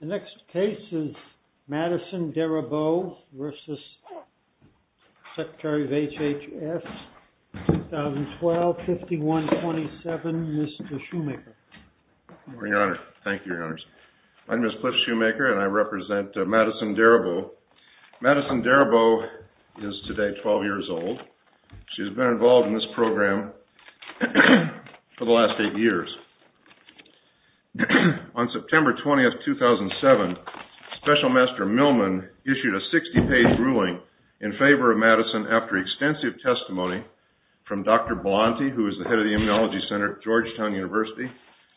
The next case is Madison Darabow versus Secretary of HHS, 2012, 5127, Mr. Shoemaker. Your Honor, thank you, Your Honors. My name is Cliff Shoemaker and I represent Madison Darabow. Madison Darabow is today 12 years old. She's been involved in this program for the last eight years. On September 20th, 2007, Special Master Millman issued a 60-page ruling in favor of Madison after extensive testimony from Dr. Blonti, who is the head of the Immunology Center at Georgetown University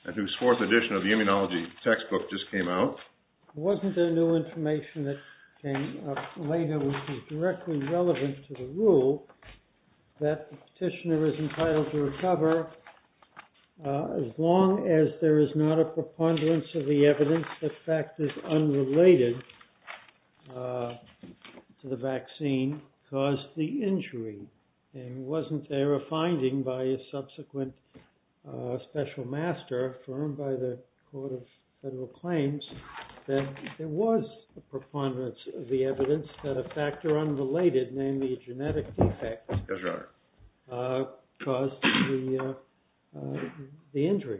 and whose fourth edition of the immunology textbook just came out. There wasn't any new information that came up later which was directly relevant to the rule that the petitioner is entitled to recover as long as there is not a preponderance of the evidence that factors unrelated to the vaccine cause the injury. And wasn't there a finding by a subsequent Special Master affirmed by the Court of Federal Claims that there was a preponderance of the evidence that a factor unrelated, namely a genetic defect, caused the injury?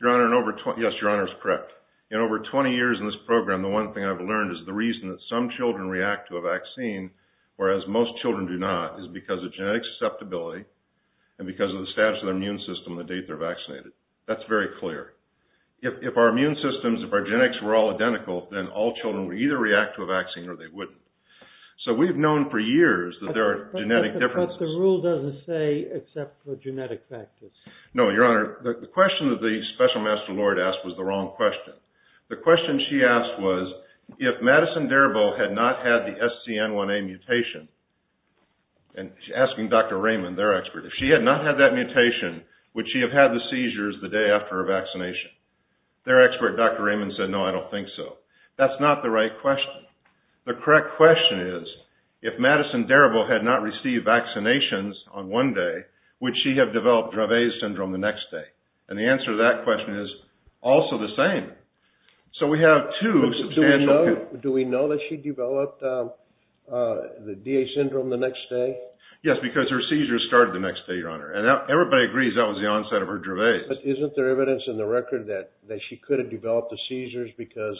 Your Honor, yes, Your Honor is correct. In over 20 years in this program, the one thing I've learned is the reason that some children react to a vaccine whereas most children do not is because of genetic susceptibility and because of the status of their immune system the date they're vaccinated. That's very clear. If our immune systems, if our genetics were all identical, then all children would either react to a vaccine or they wouldn't. So we've known for years that there are genetic differences. But the rule doesn't say except for genetic factors. No, Your Honor, the question that the Special Master Lord asked was the wrong question. The question she asked was if Madison Darabault had not had the SCN1A mutation, and she's asking Dr. Raymond, their expert, if she had not had that mutation, would she have had the seizures the day after her vaccination? Their expert, Dr. Raymond, said, no, I don't think so. That's not the right question. The correct question is, if Madison Darabault had not received vaccinations on one day, would she have developed Dravet syndrome the next day? And the answer to that question is also the same. So we have two substantial... Do we know that she developed the DA syndrome the next day? Yes, because her seizures started the next day, Your Honor. And everybody agrees that was the onset of her Dravet. But isn't there evidence in the record that she could have developed the seizures because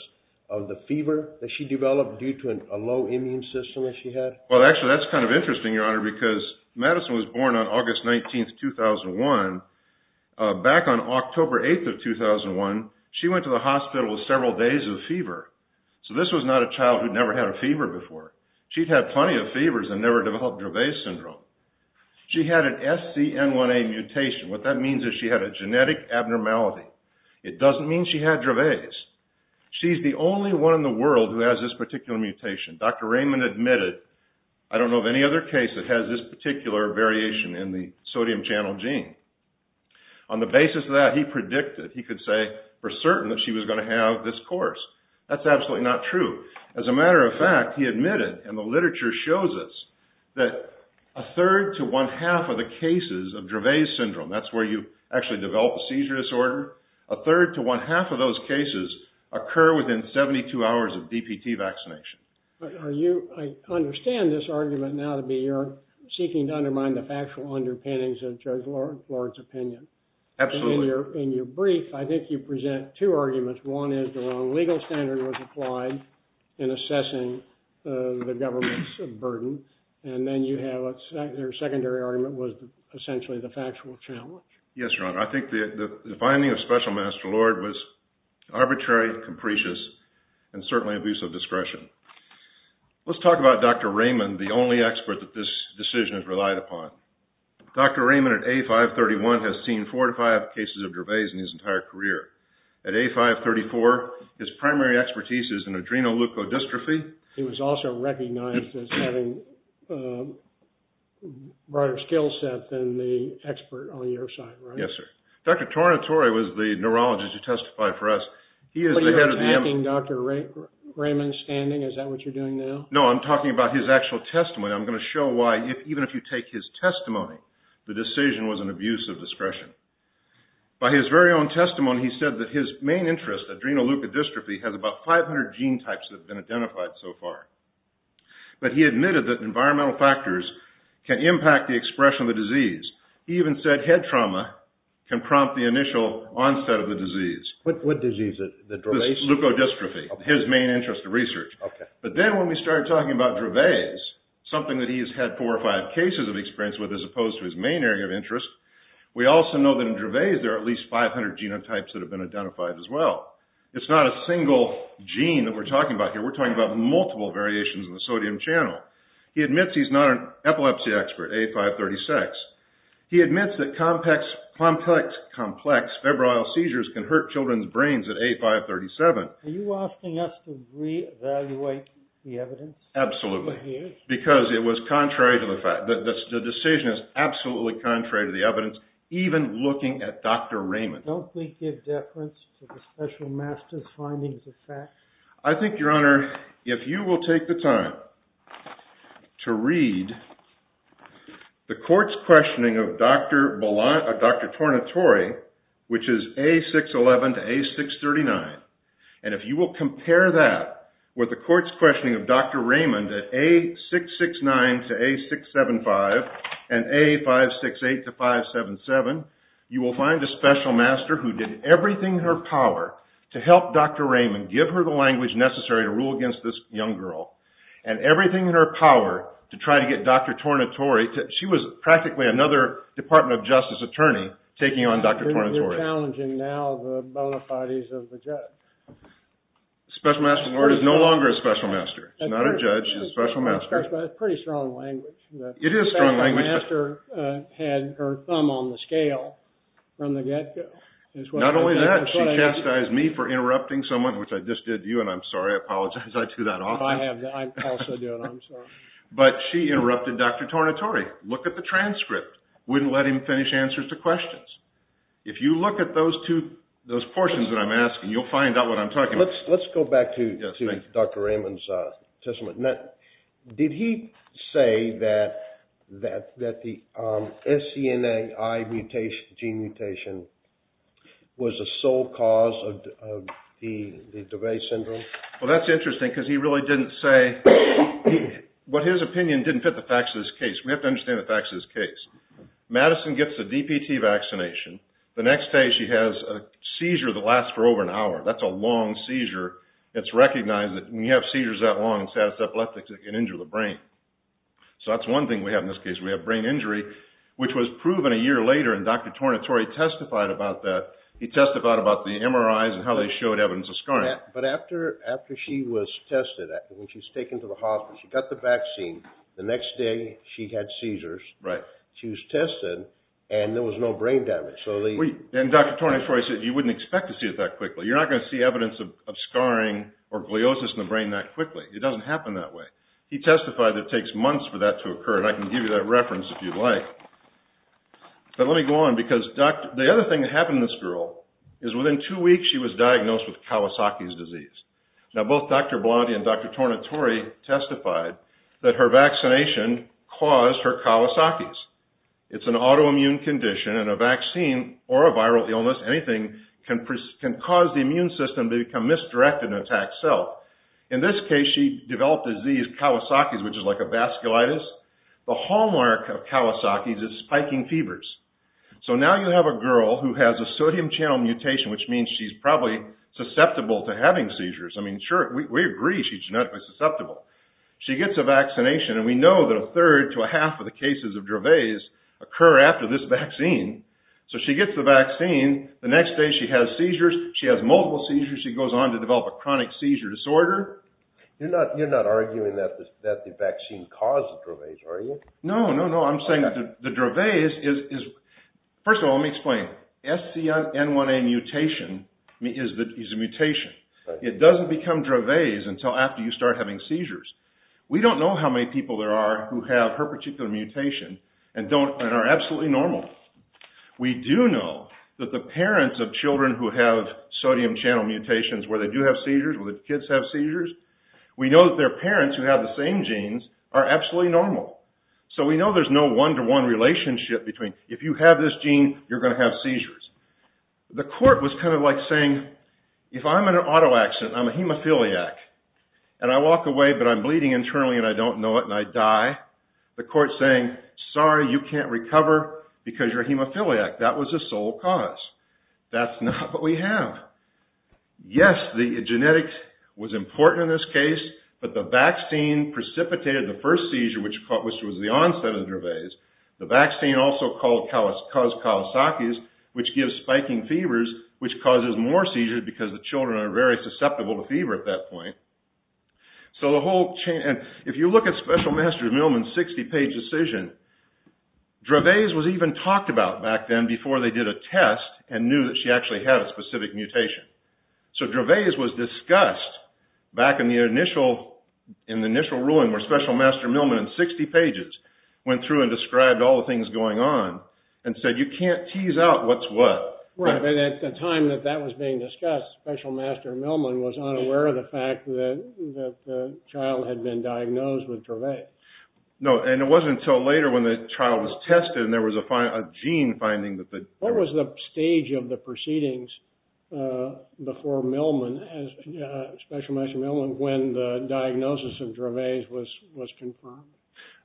of the fever that she developed due to a low immune system that she had? Well, actually, that's kind of interesting, Your Honor, because Madison was born on August 19th, 2001. Back on October 8th of 2001, she went to the hospital with several days of fever. So this was not a child who'd never had a fever before. She'd had plenty of fevers and never developed Dravet syndrome. She had an SCN1A mutation. What that means is she had a genetic abnormality. It doesn't mean she had Dravet. She's the only one in the world who has this particular mutation. Dr. Raymond admitted, I don't know of any other case that has this particular variation in the sodium channel gene. On the basis of that, he predicted, he could say, we're certain that she was going to have this course. That's absolutely not true. As a matter of fact, he admitted, and the literature shows us, that a third to one-half of the cases of Dravet syndrome, that's where you actually develop a seizure disorder, a third to one-half of those cases occur within 72 hours of DPT vaccination. I understand this argument now to be you're seeking to undermine the factual underpinnings of Judge Lord's opinion. Absolutely. In your brief, I think you present two arguments. One is the wrong legal standard was applied in assessing the government's burden, and then your secondary argument was essentially the factual challenge. Yes, Your Honor. I think the finding of Special Master Lord was arbitrary, capricious, and certainly abuse of discretion. Let's talk about Dr. Raymond, the only expert that this decision has relied upon. Dr. Raymond, at age 531, has seen four to five cases of Dravet in his entire career. At age 534, his primary expertise is in adrenal leukodystrophy. He was also recognized as having a broader skill set than the expert on your side, right? Yes, sir. Dr. Tornatore was the neurologist who testified for us. Are you attacking Dr. Raymond's standing? Is that what you're doing now? No, I'm talking about his actual testimony. I'm going to show why, even if you take his testimony, the decision was an abuse of discretion. By his very own testimony, he said that his main interest, adrenal leukodystrophy, has about 500 gene types that have been identified so far. But he admitted that environmental factors can impact the expression of the disease. He even said head trauma can prompt the initial onset of the disease. What disease? The Dravet's? Leukodystrophy. His main interest of research. Okay. But then when we started talking about Dravet's, something that he's had four or five cases of experience with, as opposed to his main area of interest, we also know that in Dravet's there are at least 500 genotypes that have been identified as well. It's not a single gene that we're talking about here. We're talking about multiple variations in the sodium channel. He admits he's not an epilepsy expert, A536. He admits that complex febrile seizures can hurt children's brains at A537. Are you asking us to reevaluate the evidence? Absolutely. Because it was contrary to the fact, the decision is absolutely contrary to the evidence, even looking at Dr. Raymond. Don't we give deference to the special master's findings of fact? I think, Your Honor, if you will take the time to read the court's questioning of Dr. Tornatore, which is A611 to A639, and if you will compare that with the court's questioning of Dr. Raymond at A669 to A675, and A568 to 577, you will find a special master who did everything in her power to help Dr. Raymond, give her the language necessary to rule against this young girl, and everything in her power to try to get Dr. Tornatore, she was practically another Department of Justice attorney, taking on Dr. Tornatore. You're challenging now the bona fides of the judge. The special master's lawyer is no longer a special master. She's not a judge, she's a special master. That's pretty strong language. It is strong language. The special master had her thumb on the scale from the get-go. Not only that, she chastised me for interrupting someone, which I just did to you, and I'm sorry, I apologize, I do that often. I also do it, I'm sorry. But she interrupted Dr. Tornatore. Look at the transcript. Wouldn't let him finish answers to questions. If you look at those portions that I'm asking, you'll find out what I'm talking about. Let's go back to Dr. Raymond's testimony. Did he say that the SCNA gene mutation was the sole cause of the DeVay syndrome? Well, that's interesting, because he really didn't say. But his opinion didn't fit the facts of this case. We have to understand the facts of this case. Madison gets a DPT vaccination. The next day she has a seizure that lasts for over an hour. That's a long seizure. It's recognized that when you have seizures that long, it's able to injure the brain. So that's one thing we have in this case. We have brain injury, which was proven a year later, and Dr. Tornatore testified about that. He testified about the MRIs and how they showed evidence of scarring. But after she was tested, when she was taken to the hospital, she got the vaccine. The next day she had seizures. She was tested, and there was no brain damage. And Dr. Tornatore said you wouldn't expect to see it that quickly. You're not going to see evidence of scarring or gliosis in the brain that quickly. It doesn't happen that way. He testified that it takes months for that to occur, and I can give you that reference if you'd like. But let me go on, because the other thing that happened to this girl is within two weeks she was diagnosed with Kawasaki's disease. Now, both Dr. Blondie and Dr. Tornatore testified that her vaccination caused her Kawasaki's. It's an autoimmune condition, and a vaccine or a viral illness, anything, can cause the immune system to become misdirected and attack cells. In this case, she developed the disease Kawasaki's, which is like a vasculitis. The hallmark of Kawasaki's is spiking fevers. So now you have a girl who has a sodium channel mutation, which means she's probably susceptible to having seizures. I mean, sure, we agree she's genetically susceptible. She gets a vaccination, and we know that a third to a half of the cases of Dravet's occur after this vaccine. So she gets the vaccine. The next day she has seizures. She has multiple seizures. She goes on to develop a chronic seizure disorder. You're not arguing that the vaccine caused the Dravet's, are you? No, no, no. First of all, let me explain. SCN1A mutation is a mutation. It doesn't become Dravet's until after you start having seizures. We don't know how many people there are who have her particular mutation and are absolutely normal. We do know that the parents of children who have sodium channel mutations, where they do have seizures, where the kids have seizures, we know that their parents, who have the same genes, are absolutely normal. So we know there's no one-to-one relationship between, if you have this gene, you're going to have seizures. The court was kind of like saying, if I'm in an auto accident, I'm a hemophiliac, and I walk away, but I'm bleeding internally, and I don't know it, and I die, the court's saying, sorry, you can't recover because you're a hemophiliac. That was the sole cause. That's not what we have. Yes, the genetics was important in this case, but the vaccine precipitated the first seizure, which was the onset of Dravet's. The vaccine also caused Kawasaki's, which gives spiking fevers, which causes more seizures, because the children are very susceptible to fever at that point. If you look at Special Master's Millman's 60-page decision, Dravet's was even talked about back then, before they did a test, and knew that she actually had a specific mutation. So Dravet's was discussed back in the initial ruling, where Special Master Millman, in 60 pages, went through and described all the things going on, and said, you can't tease out what's what. Right, but at the time that that was being discussed, Special Master Millman was unaware of the fact that the child had been diagnosed with Dravet. No, and it wasn't until later, when the child was tested, and there was a gene finding that... What was the stage of the proceedings before Special Master Millman, when the diagnosis of Dravet's was confirmed?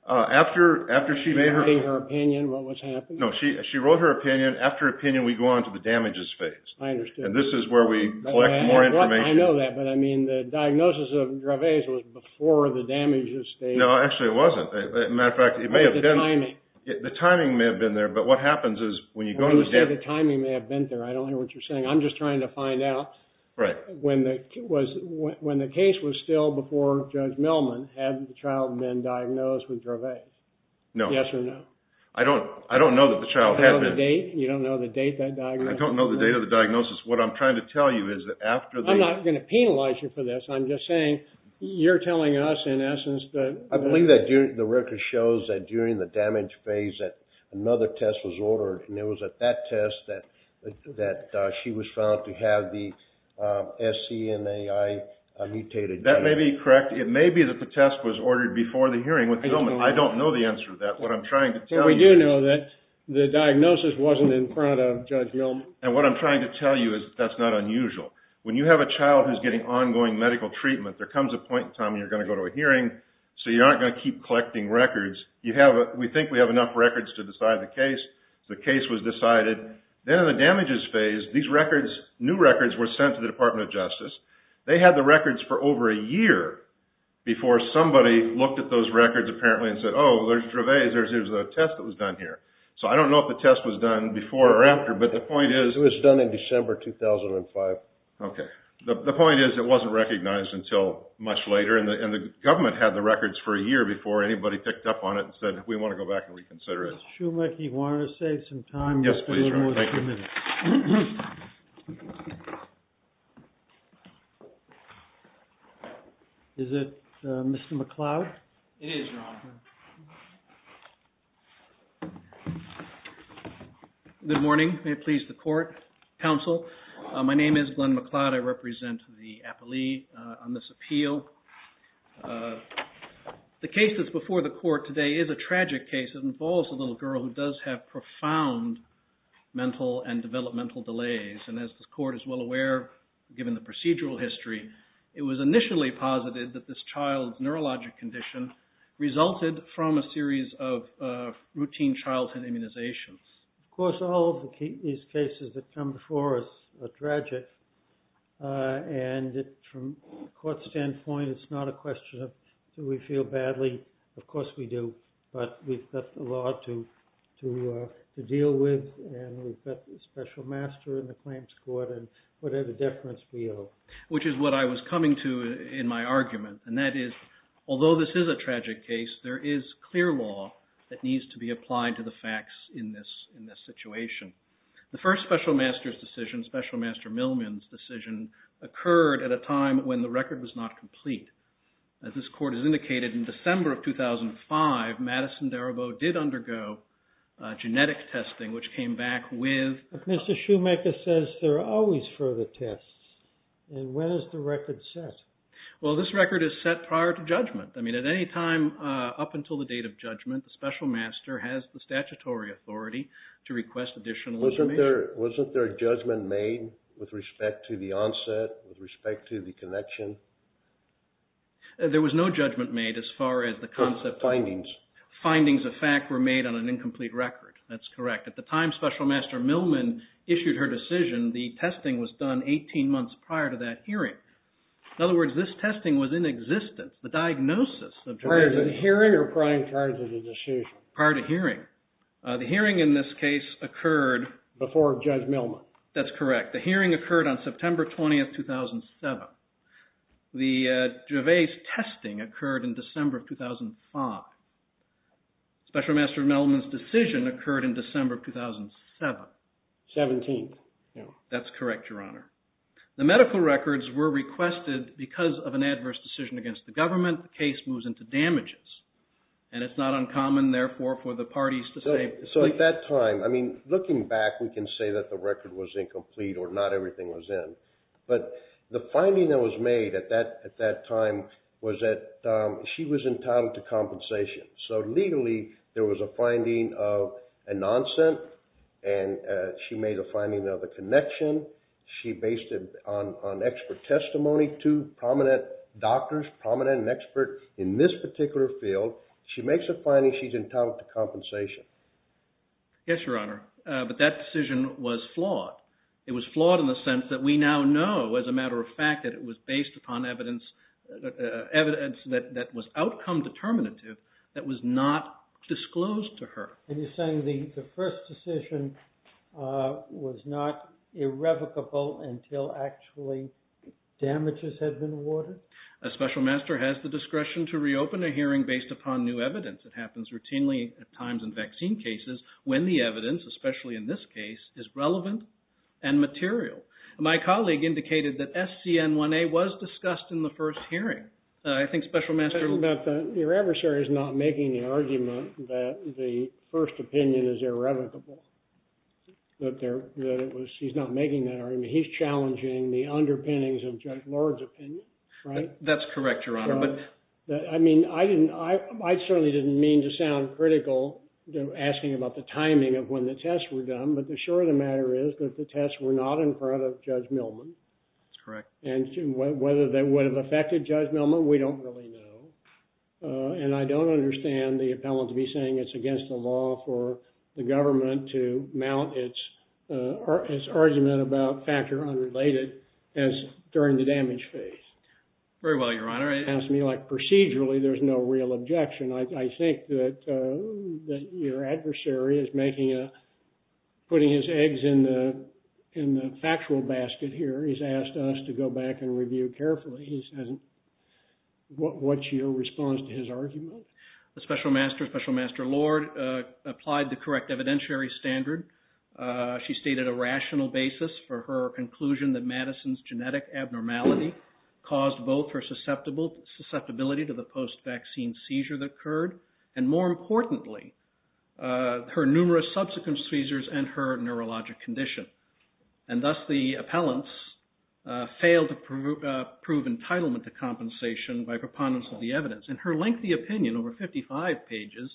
After she made her... Was she writing her opinion, what was happening? No, she wrote her opinion. After her opinion, we go on to the damages phase. I understand. And this is where we collect more information. I know that, but I mean, the diagnosis of Dravet's was before the damages stage. No, actually it wasn't. As a matter of fact, it may have been... What was the timing? The timing may have been there, but what happens is, when you go to the... When you say the timing may have been there, I don't hear what you're saying. I'm just trying to find out... Right. When the case was still before Judge Millman, had the child been diagnosed with Dravet? No. Yes or no? I don't know that the child had been... You don't know the date? You don't know the date that diagnosis was made? I don't know the date of the diagnosis. What I'm trying to tell you is that after the... I'm not going to penalize you for this. I'm just saying, you're telling us in essence that... I believe that the record shows that during the damage phase that another test was ordered, and it was at that test that she was found to have the SCNAI mutated... That may be correct. It may be that the test was ordered before the hearing with Millman. I don't know the answer to that. What I'm trying to tell you... We do know that the diagnosis wasn't in front of Judge Millman. And what I'm trying to tell you is that that's not unusual. When you have a child who's getting ongoing medical treatment, there comes a point in time when you're going to go to a hearing, so you aren't going to keep collecting records. We think we have enough records to decide the case. The case was decided. Then in the damages phase, these records, new records, were sent to the Department of Justice. They had the records for over a year before somebody looked at those records apparently and said, oh, there's Dravet. There's a test that was done here. So I don't know if the test was done before or after, but the point is... It was done in December 2005. Okay. The point is it wasn't recognized until much later, and the government had the records for a year before anybody picked up on it and said, we want to go back and reconsider it. Schumacher, you want to save some time? Yes, please. Is it Mr. McLeod? It is Ron. Good morning. May it please the court, counsel. My name is Glenn McLeod. I represent the appellee on this appeal. The case that's before the court today is a tragic case. It involves a little girl who does have profound mental and developmental delays, and as the court is well aware, given the procedural history, it was initially posited that this child's neurologic condition resulted from a series of routine childhood immunizations. Of course, all of these cases that come before us are tragic, and from a court standpoint, it's not a question of do we feel badly. Of course we do, but we've got the law to deal with, and we've got the special master in the claims court, and whatever deference we owe. Which is what I was coming to in my argument, and that is although this is a tragic case, there is clear law that needs to be applied to the facts in this situation. The first special master's decision, special master Millman's decision, occurred at a time when the record was not complete. As this court has indicated, in December of 2005, Madison Darabaud did undergo genetic testing, which came back with... But Mr. Shoemaker says there are always further tests, and when is the record set? Well, this record is set prior to judgment. I mean, at any time up until the date of judgment, the special master has the statutory authority to request additional information. Wasn't there a judgment made with respect to the onset, with respect to the connection? There was no judgment made as far as the concept... Findings. Findings of fact were made on an incomplete record. That's correct. At the time special master Millman issued her decision, the testing was done 18 months prior to that hearing. In other words, this testing was in existence. The diagnosis of... Prior to the hearing or prior to the decision? Prior to hearing. The hearing in this case occurred... Before Judge Millman. That's correct. The hearing occurred on September 20th, 2007. The Gervais testing occurred in December of 2005. Special master Millman's decision occurred in December of 2007. 17th. That's correct, Your Honor. The medical records were requested because of an adverse decision against the government. The case moves into damages. And it's not uncommon, therefore, for the parties to say... So at that time, I mean, looking back, we can say that the record was incomplete or not everything was in. But the finding that was made at that time was that she was entitled to compensation. So, legally, there was a finding of an onset, and she made a finding of a connection. She based it on expert testimony to prominent doctors, prominent and expert in this particular field. She makes a finding she's entitled to compensation. Yes, Your Honor. But that decision was flawed. It was flawed in the sense that we now know, as a matter of fact, that it was based upon evidence that was outcome determinative that was not disclosed to her. And you're saying the first decision was not irrevocable until actually damages had been awarded? A special master has the discretion to reopen a hearing based upon new evidence. It happens routinely at times in vaccine cases when the evidence, especially in this case, is relevant and material. My colleague indicated that SCN1A was discussed in the first hearing. I think special master... The first opinion is irrevocable. He's not making that argument. He's challenging the underpinnings of Judge Lord's opinion, right? That's correct, Your Honor. I mean, I certainly didn't mean to sound critical asking about the timing of when the tests were done, but the short of the matter is that the tests were not in front of Judge Millman. That's correct. And whether that would have affected Judge Millman, we don't really know. And I don't understand the appellant to be saying it's against the law for the government to mount its argument about factor unrelated as during the damage phase. Very well, Your Honor. It sounds to me like procedurally there's no real objection. I think that your adversary is putting his eggs in the factual basket here. He's asked us to go back and review carefully. What's your response to his argument? The special master, special master Lord, applied the correct evidentiary standard. She stated a rational basis for her conclusion that Madison's genetic abnormality caused both her susceptibility to the post-vaccine seizure that occurred, and more importantly, her numerous subsequent seizures and her neurologic condition. And thus the appellants failed to prove entitlement to compensation by preponderance of the evidence. In her lengthy opinion, over 55 pages,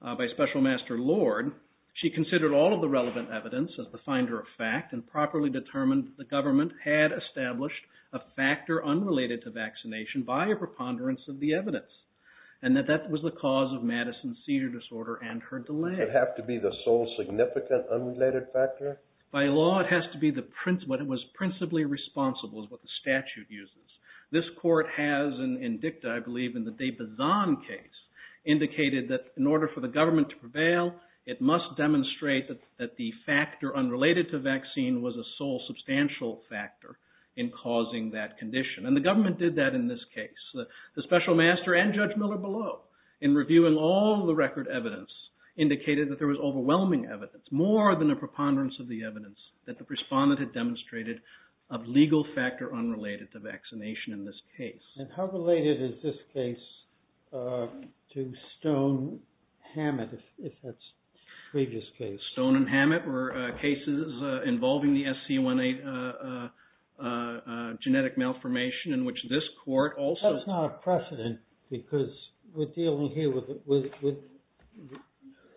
by special master Lord, she considered all of the relevant evidence as the finder of fact and properly determined that the government had established a factor unrelated to vaccination by a preponderance of the evidence and that that was the cause of Madison's seizure disorder and her delay. Did it have to be the sole significant unrelated factor? By law, it has to be what was principally responsible, is what the statute uses. This court has, in dicta, I believe, in the de Bazin case, indicated that in order for the government to prevail, it must demonstrate that the factor unrelated to vaccine was a sole substantial factor in causing that condition. And the government did that in this case. The special master and Judge Miller below, in reviewing all the record evidence, indicated that there was overwhelming evidence, more than a preponderance of the evidence, that the respondent had demonstrated a legal factor unrelated to vaccination in this case. And how related is this case to Stone and Hammett, if that's the previous case? Stone and Hammett were cases involving the SC18 genetic malformation in which this court also... That's not a precedent because we're dealing here with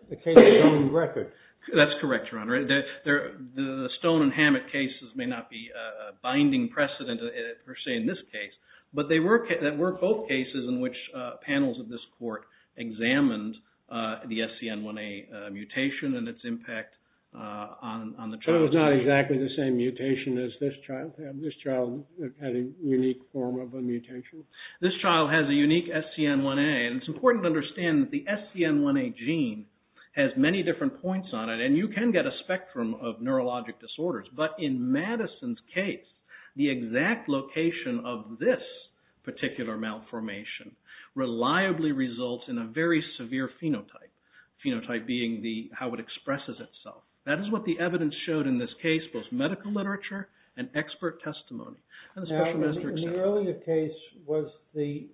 the case's own record. That's correct, Your Honor. The Stone and Hammett cases may not be a binding precedent, per se, in this case, but they were both cases in which panels of this court examined the SCN1A mutation and its impact on the child. So it was not exactly the same mutation as this child? This child had a unique form of a mutation? This child has a unique SCN1A, and it's important to understand that the SCN1A gene has many different points on it, and you can get a spectrum of neurologic disorders. But in Madison's case, the exact location of this particular malformation reliably results in a very severe phenotype, phenotype being how it expresses itself. That is what the evidence showed in this case, both medical literature and expert testimony. In the earlier case, was the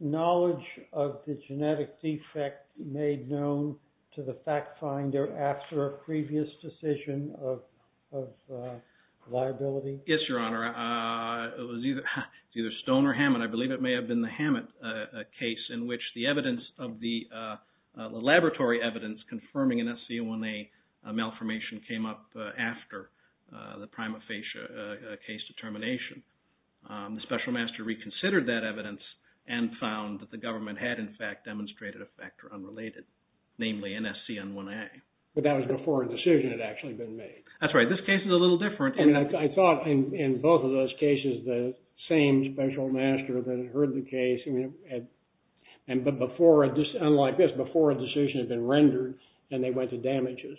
knowledge of the genetic defect made known to the fact finder after a previous decision of liability? Yes, Your Honor. It was either Stone or Hammett. I believe it may have been the Hammett case in which the laboratory evidence confirming an SCN1A malformation came up after the prima facie case determination. The special master reconsidered that evidence and found that the government had, in fact, demonstrated a factor unrelated, namely, an SCN1A. But that was before a decision had actually been made? That's right. This case is a little different. I thought in both of those cases, the same special master that had heard the case, but unlike this, before a decision had been rendered and they went to damages.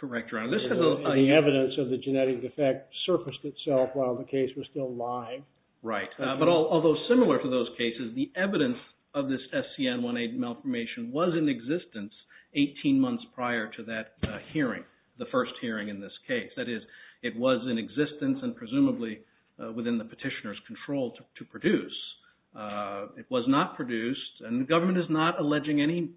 Correct, Your Honor. The evidence of the genetic defect surfaced itself while the case was still live. Right, but although similar to those cases, the evidence of this SCN1A malformation was in existence 18 months prior to that hearing, the first hearing in this case. That is, it was in existence and presumably within the petitioner's control to produce. It was not produced, and the government is not alleging any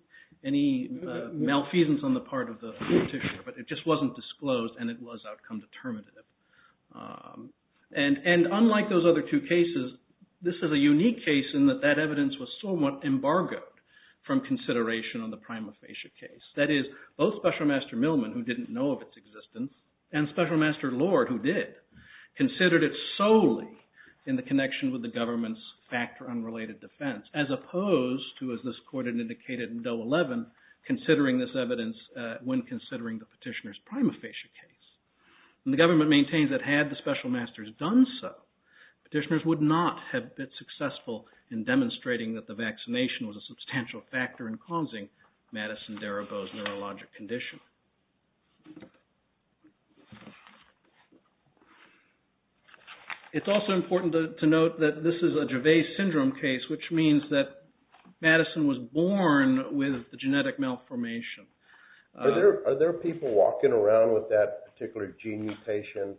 malfeasance on the part of the petitioner, but it just wasn't disclosed and it was outcome determinative. And unlike those other two cases, this is a unique case in that that evidence was somewhat embargoed from consideration on the prima facie case. That is, both special master Millman, who didn't know of its existence, and special master Lord, who did, considered it solely in the connection with the government's factor unrelated defense, as opposed to, as this court had indicated in Doe 11, considering this evidence when considering the petitioner's prima facie case. And the government maintains that had the special masters done so, petitioners would not have been successful in demonstrating that the vaccination was a substantial factor in causing Madison Derabo's neurologic condition. It's also important to note that this is a Gervais syndrome case, which means that Madison was born with the genetic malformation. Are there people walking around with that particular gene mutation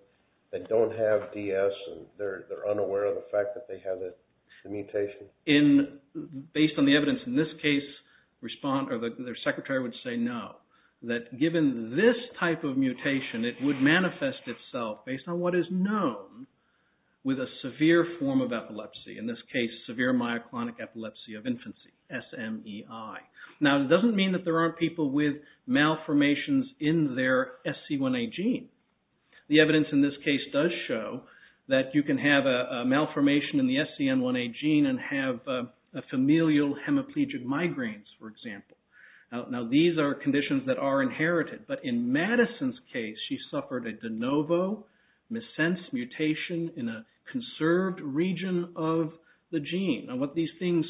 that don't have DS and they're unaware of the fact that they have the mutation? Based on the evidence in this case, their secretary would say no, that given this type of mutation, it would manifest itself based on what is known with a severe form of epilepsy, in this case severe myoclonic epilepsy of infancy, SMEI. Now, it doesn't mean that there aren't people with malformations in their SC1A gene. The evidence in this case does show that you can have a malformation in the SCN1A gene and have familial hemiplegic migraines, for example. Now, these are conditions that are inherited, but in Madison's case, she suffered a de novo missense mutation in a conserved region of the gene. Now, what these things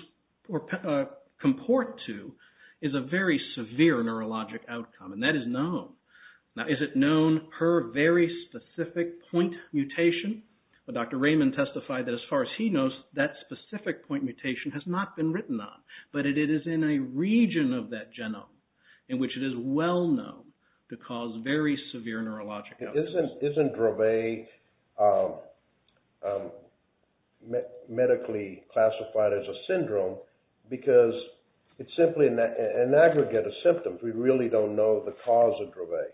comport to is a very severe neurologic outcome, and that is known. Now, is it known per very specific point mutation? Dr. Raymond testified that as far as he knows, that specific point mutation has not been written on, but it is in a region of that genome in which it is well known to cause very severe neurologic outcomes. Isn't Dravet medically classified as a syndrome because it's simply an aggregate of symptoms? We really don't know the cause of Dravet.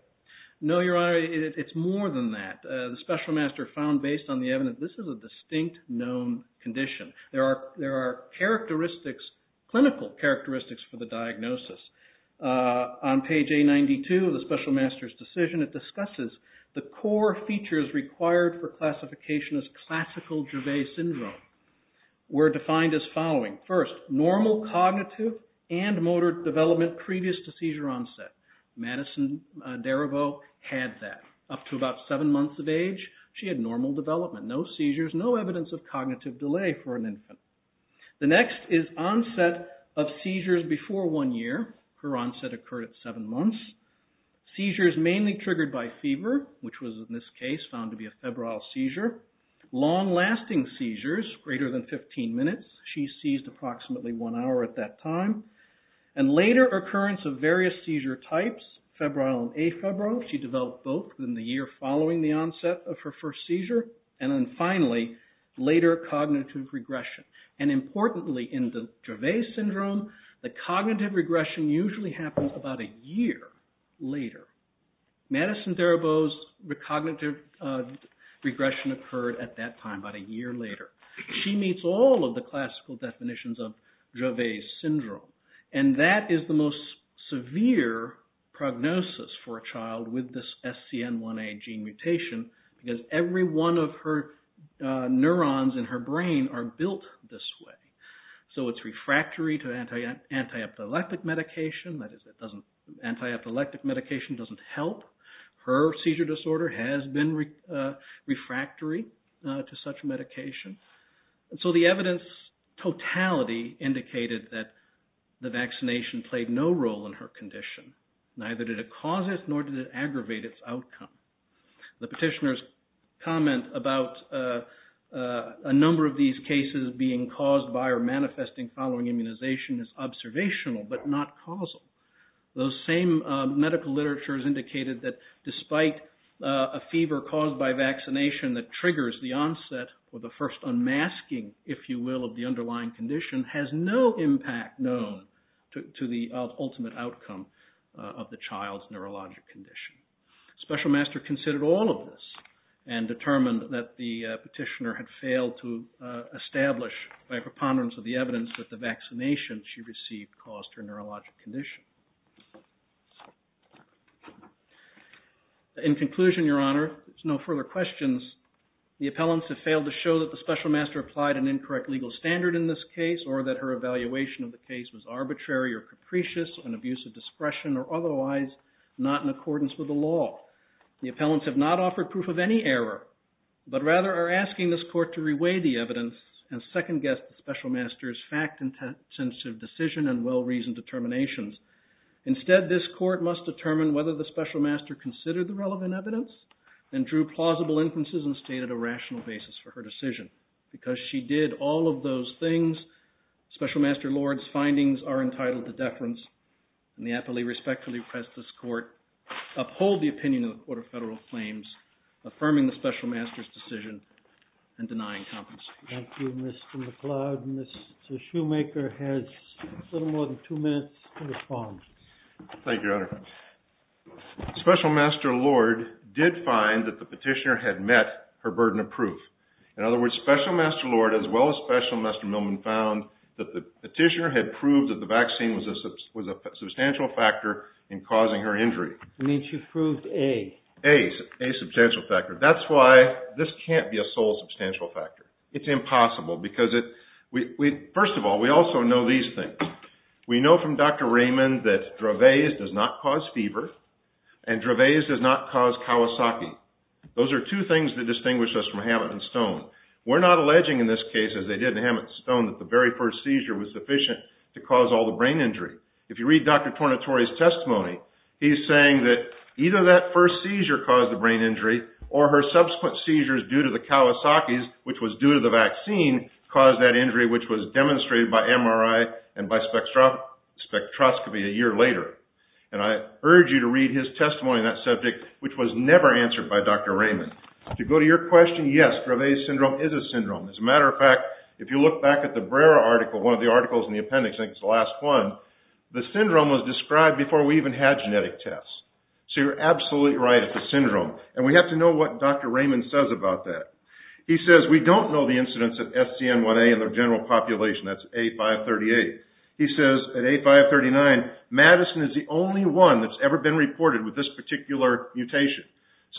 No, Your Honor. It's more than that. The special master found based on the evidence this is a distinct known condition. There are characteristics, clinical characteristics for the diagnosis. On page A92 of the special master's decision, it discusses the core features required for classification as classical Dravet syndrome. We're defined as following. First, normal cognitive and motor development previous to seizure onset. Madison Darabault had that. Up to about seven months of age, she had normal development. No seizures, no evidence of cognitive delay for an infant. The next is onset of seizures before one year. Her onset occurred at seven months. Seizures mainly triggered by fever, which was in this case found to be a febrile seizure. Long-lasting seizures, greater than 15 minutes. She seized approximately one hour at that time. And later occurrence of various seizure types, febrile and afebrile. She developed both in the year following the onset of her first seizure. And then finally, later cognitive regression. And importantly in Dravet syndrome, the cognitive regression usually happens about a year later. Madison Darabault's cognitive regression occurred at that time, about a year later. She meets all of the classical definitions of Dravet syndrome. And that is the most severe prognosis for a child with this SCN1A gene mutation because every one of her neurons in her brain are built this way. So it's refractory to anti-epileptic medication. Anti-epileptic medication doesn't help. Her seizure disorder has been refractory to such medication. And so the evidence totality indicated that the vaccination played no role in her condition. Neither did it cause it, nor did it aggravate its outcome. The petitioner's comment about a number of these cases being caused by or manifesting following immunization is observational but not causal. Those same medical literatures indicated that despite a fever caused by vaccination that triggers the onset or the first unmasking, if you will, of the underlying condition, has no impact known to the ultimate outcome of the child's neurologic condition. Special Master considered all of this and determined that the petitioner had failed to establish by preponderance of the evidence that the vaccination she received caused her neurologic condition. In conclusion, Your Honor, there's no further questions. The appellants have failed to show that the Special Master applied an incorrect legal standard in this case or that her evaluation of the case was arbitrary or capricious, an abuse of discretion or otherwise not in accordance with the law. The appellants have not offered proof of any error but rather are asking this court to reweigh the evidence and second-guess the Special Master's fact-intensive decision and well-reasoned determinations. Instead, this court must determine whether the Special Master considered the relevant evidence and drew plausible inferences and stated a rational basis for her decision. Because she did all of those things, Special Master Lord's findings are entitled to deference. And the appellee respectfully requests this court uphold the opinion of the Court of Federal Claims, affirming the Special Master's decision and denying compensation. Thank you, Mr. McCloud. Mr. Shoemaker has a little more than 2 minutes to respond. Thank you, Your Honor. Special Master Lord did find that the petitioner had met her burden of proof. In other words, Special Master Lord, as well as Special Master Millman, found that the petitioner had proved that the vaccine was a substantial factor in causing her injury. You mean she proved A? A, a substantial factor. That's why this can't be a sole substantial factor. It's impossible, because it... First of all, we also know these things. We know from Dr. Raymond that Dravet's does not cause fever, and Dravet's does not cause Kawasaki. Those are two things that distinguish us from Hammett and Stone. We're not alleging in this case, as they did in Hammett and Stone, that the very first seizure was sufficient to cause all the brain injury. If you read Dr. Tornatore's testimony, he's saying that either that first seizure caused the brain injury, or her subsequent seizures due to the Kawasaki's, which was due to the vaccine, caused that injury, which was demonstrated by MRI and by spectroscopy a year later. And I urge you to read his testimony on that subject, which was never answered by Dr. Raymond. To go to your question, yes, Dravet's syndrome is a syndrome. As a matter of fact, if you look back at the Brera article, one of the articles in the appendix, I think it's the last one, the syndrome was described before we even had genetic tests. So you're absolutely right, it's a syndrome. And we have to know what Dr. Raymond says about that. He says, we don't know the incidence of SCN1A in the general population. That's A538. He says, at A539, Madison is the only one that's ever been reported with this particular mutation.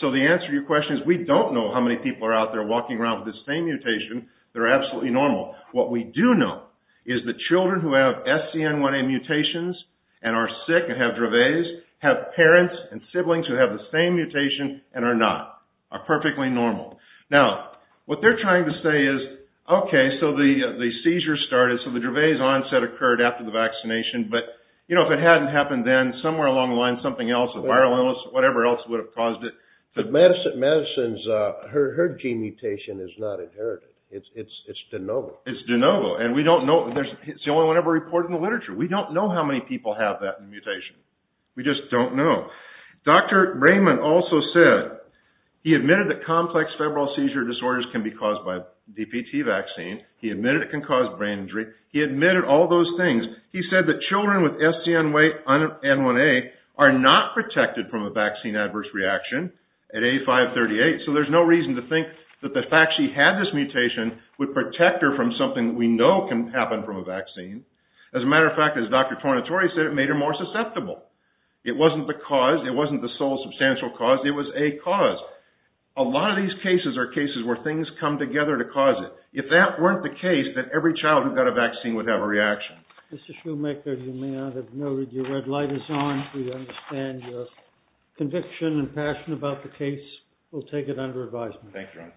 So the answer to your question is, we don't know how many people are out there walking around with this same mutation. They're absolutely normal. What we do know is that children who have SCN1A mutations and are sick and have Dravet's, have parents and siblings who have the same mutation and are not. Are perfectly normal. Now, what they're trying to say is, okay, so the seizure started, so the Dravet's onset occurred after the vaccination, but if it hadn't happened then, somewhere along the line, something else, a viral illness or whatever else would have caused it. But Madison's, her gene mutation is not inherited. It's de novo. It's de novo. And we don't know, it's the only one ever reported in the literature. We don't know how many people have that mutation. We just don't know. Dr. Raymond also said, he admitted that complex febrile seizure disorders can be caused by DPT vaccine. He admitted it can cause brain injury. He admitted all those things. He said that children with SCN1A are not protected from a vaccine adverse reaction at A538. So there's no reason to think that the fact she had this mutation would protect her from something we know can happen from a vaccine. As a matter of fact, as Dr. Tornatore said, it made her more susceptible. It wasn't the cause. It wasn't the sole substantial cause. It was a cause. A lot of these cases are cases where things come together to cause it. If that weren't the case, then every child who got a vaccine would have a reaction. Mr. Shoemaker, you may have noted your red light is on. We understand your conviction and passion about the case. We'll take it under advisement. Thank you.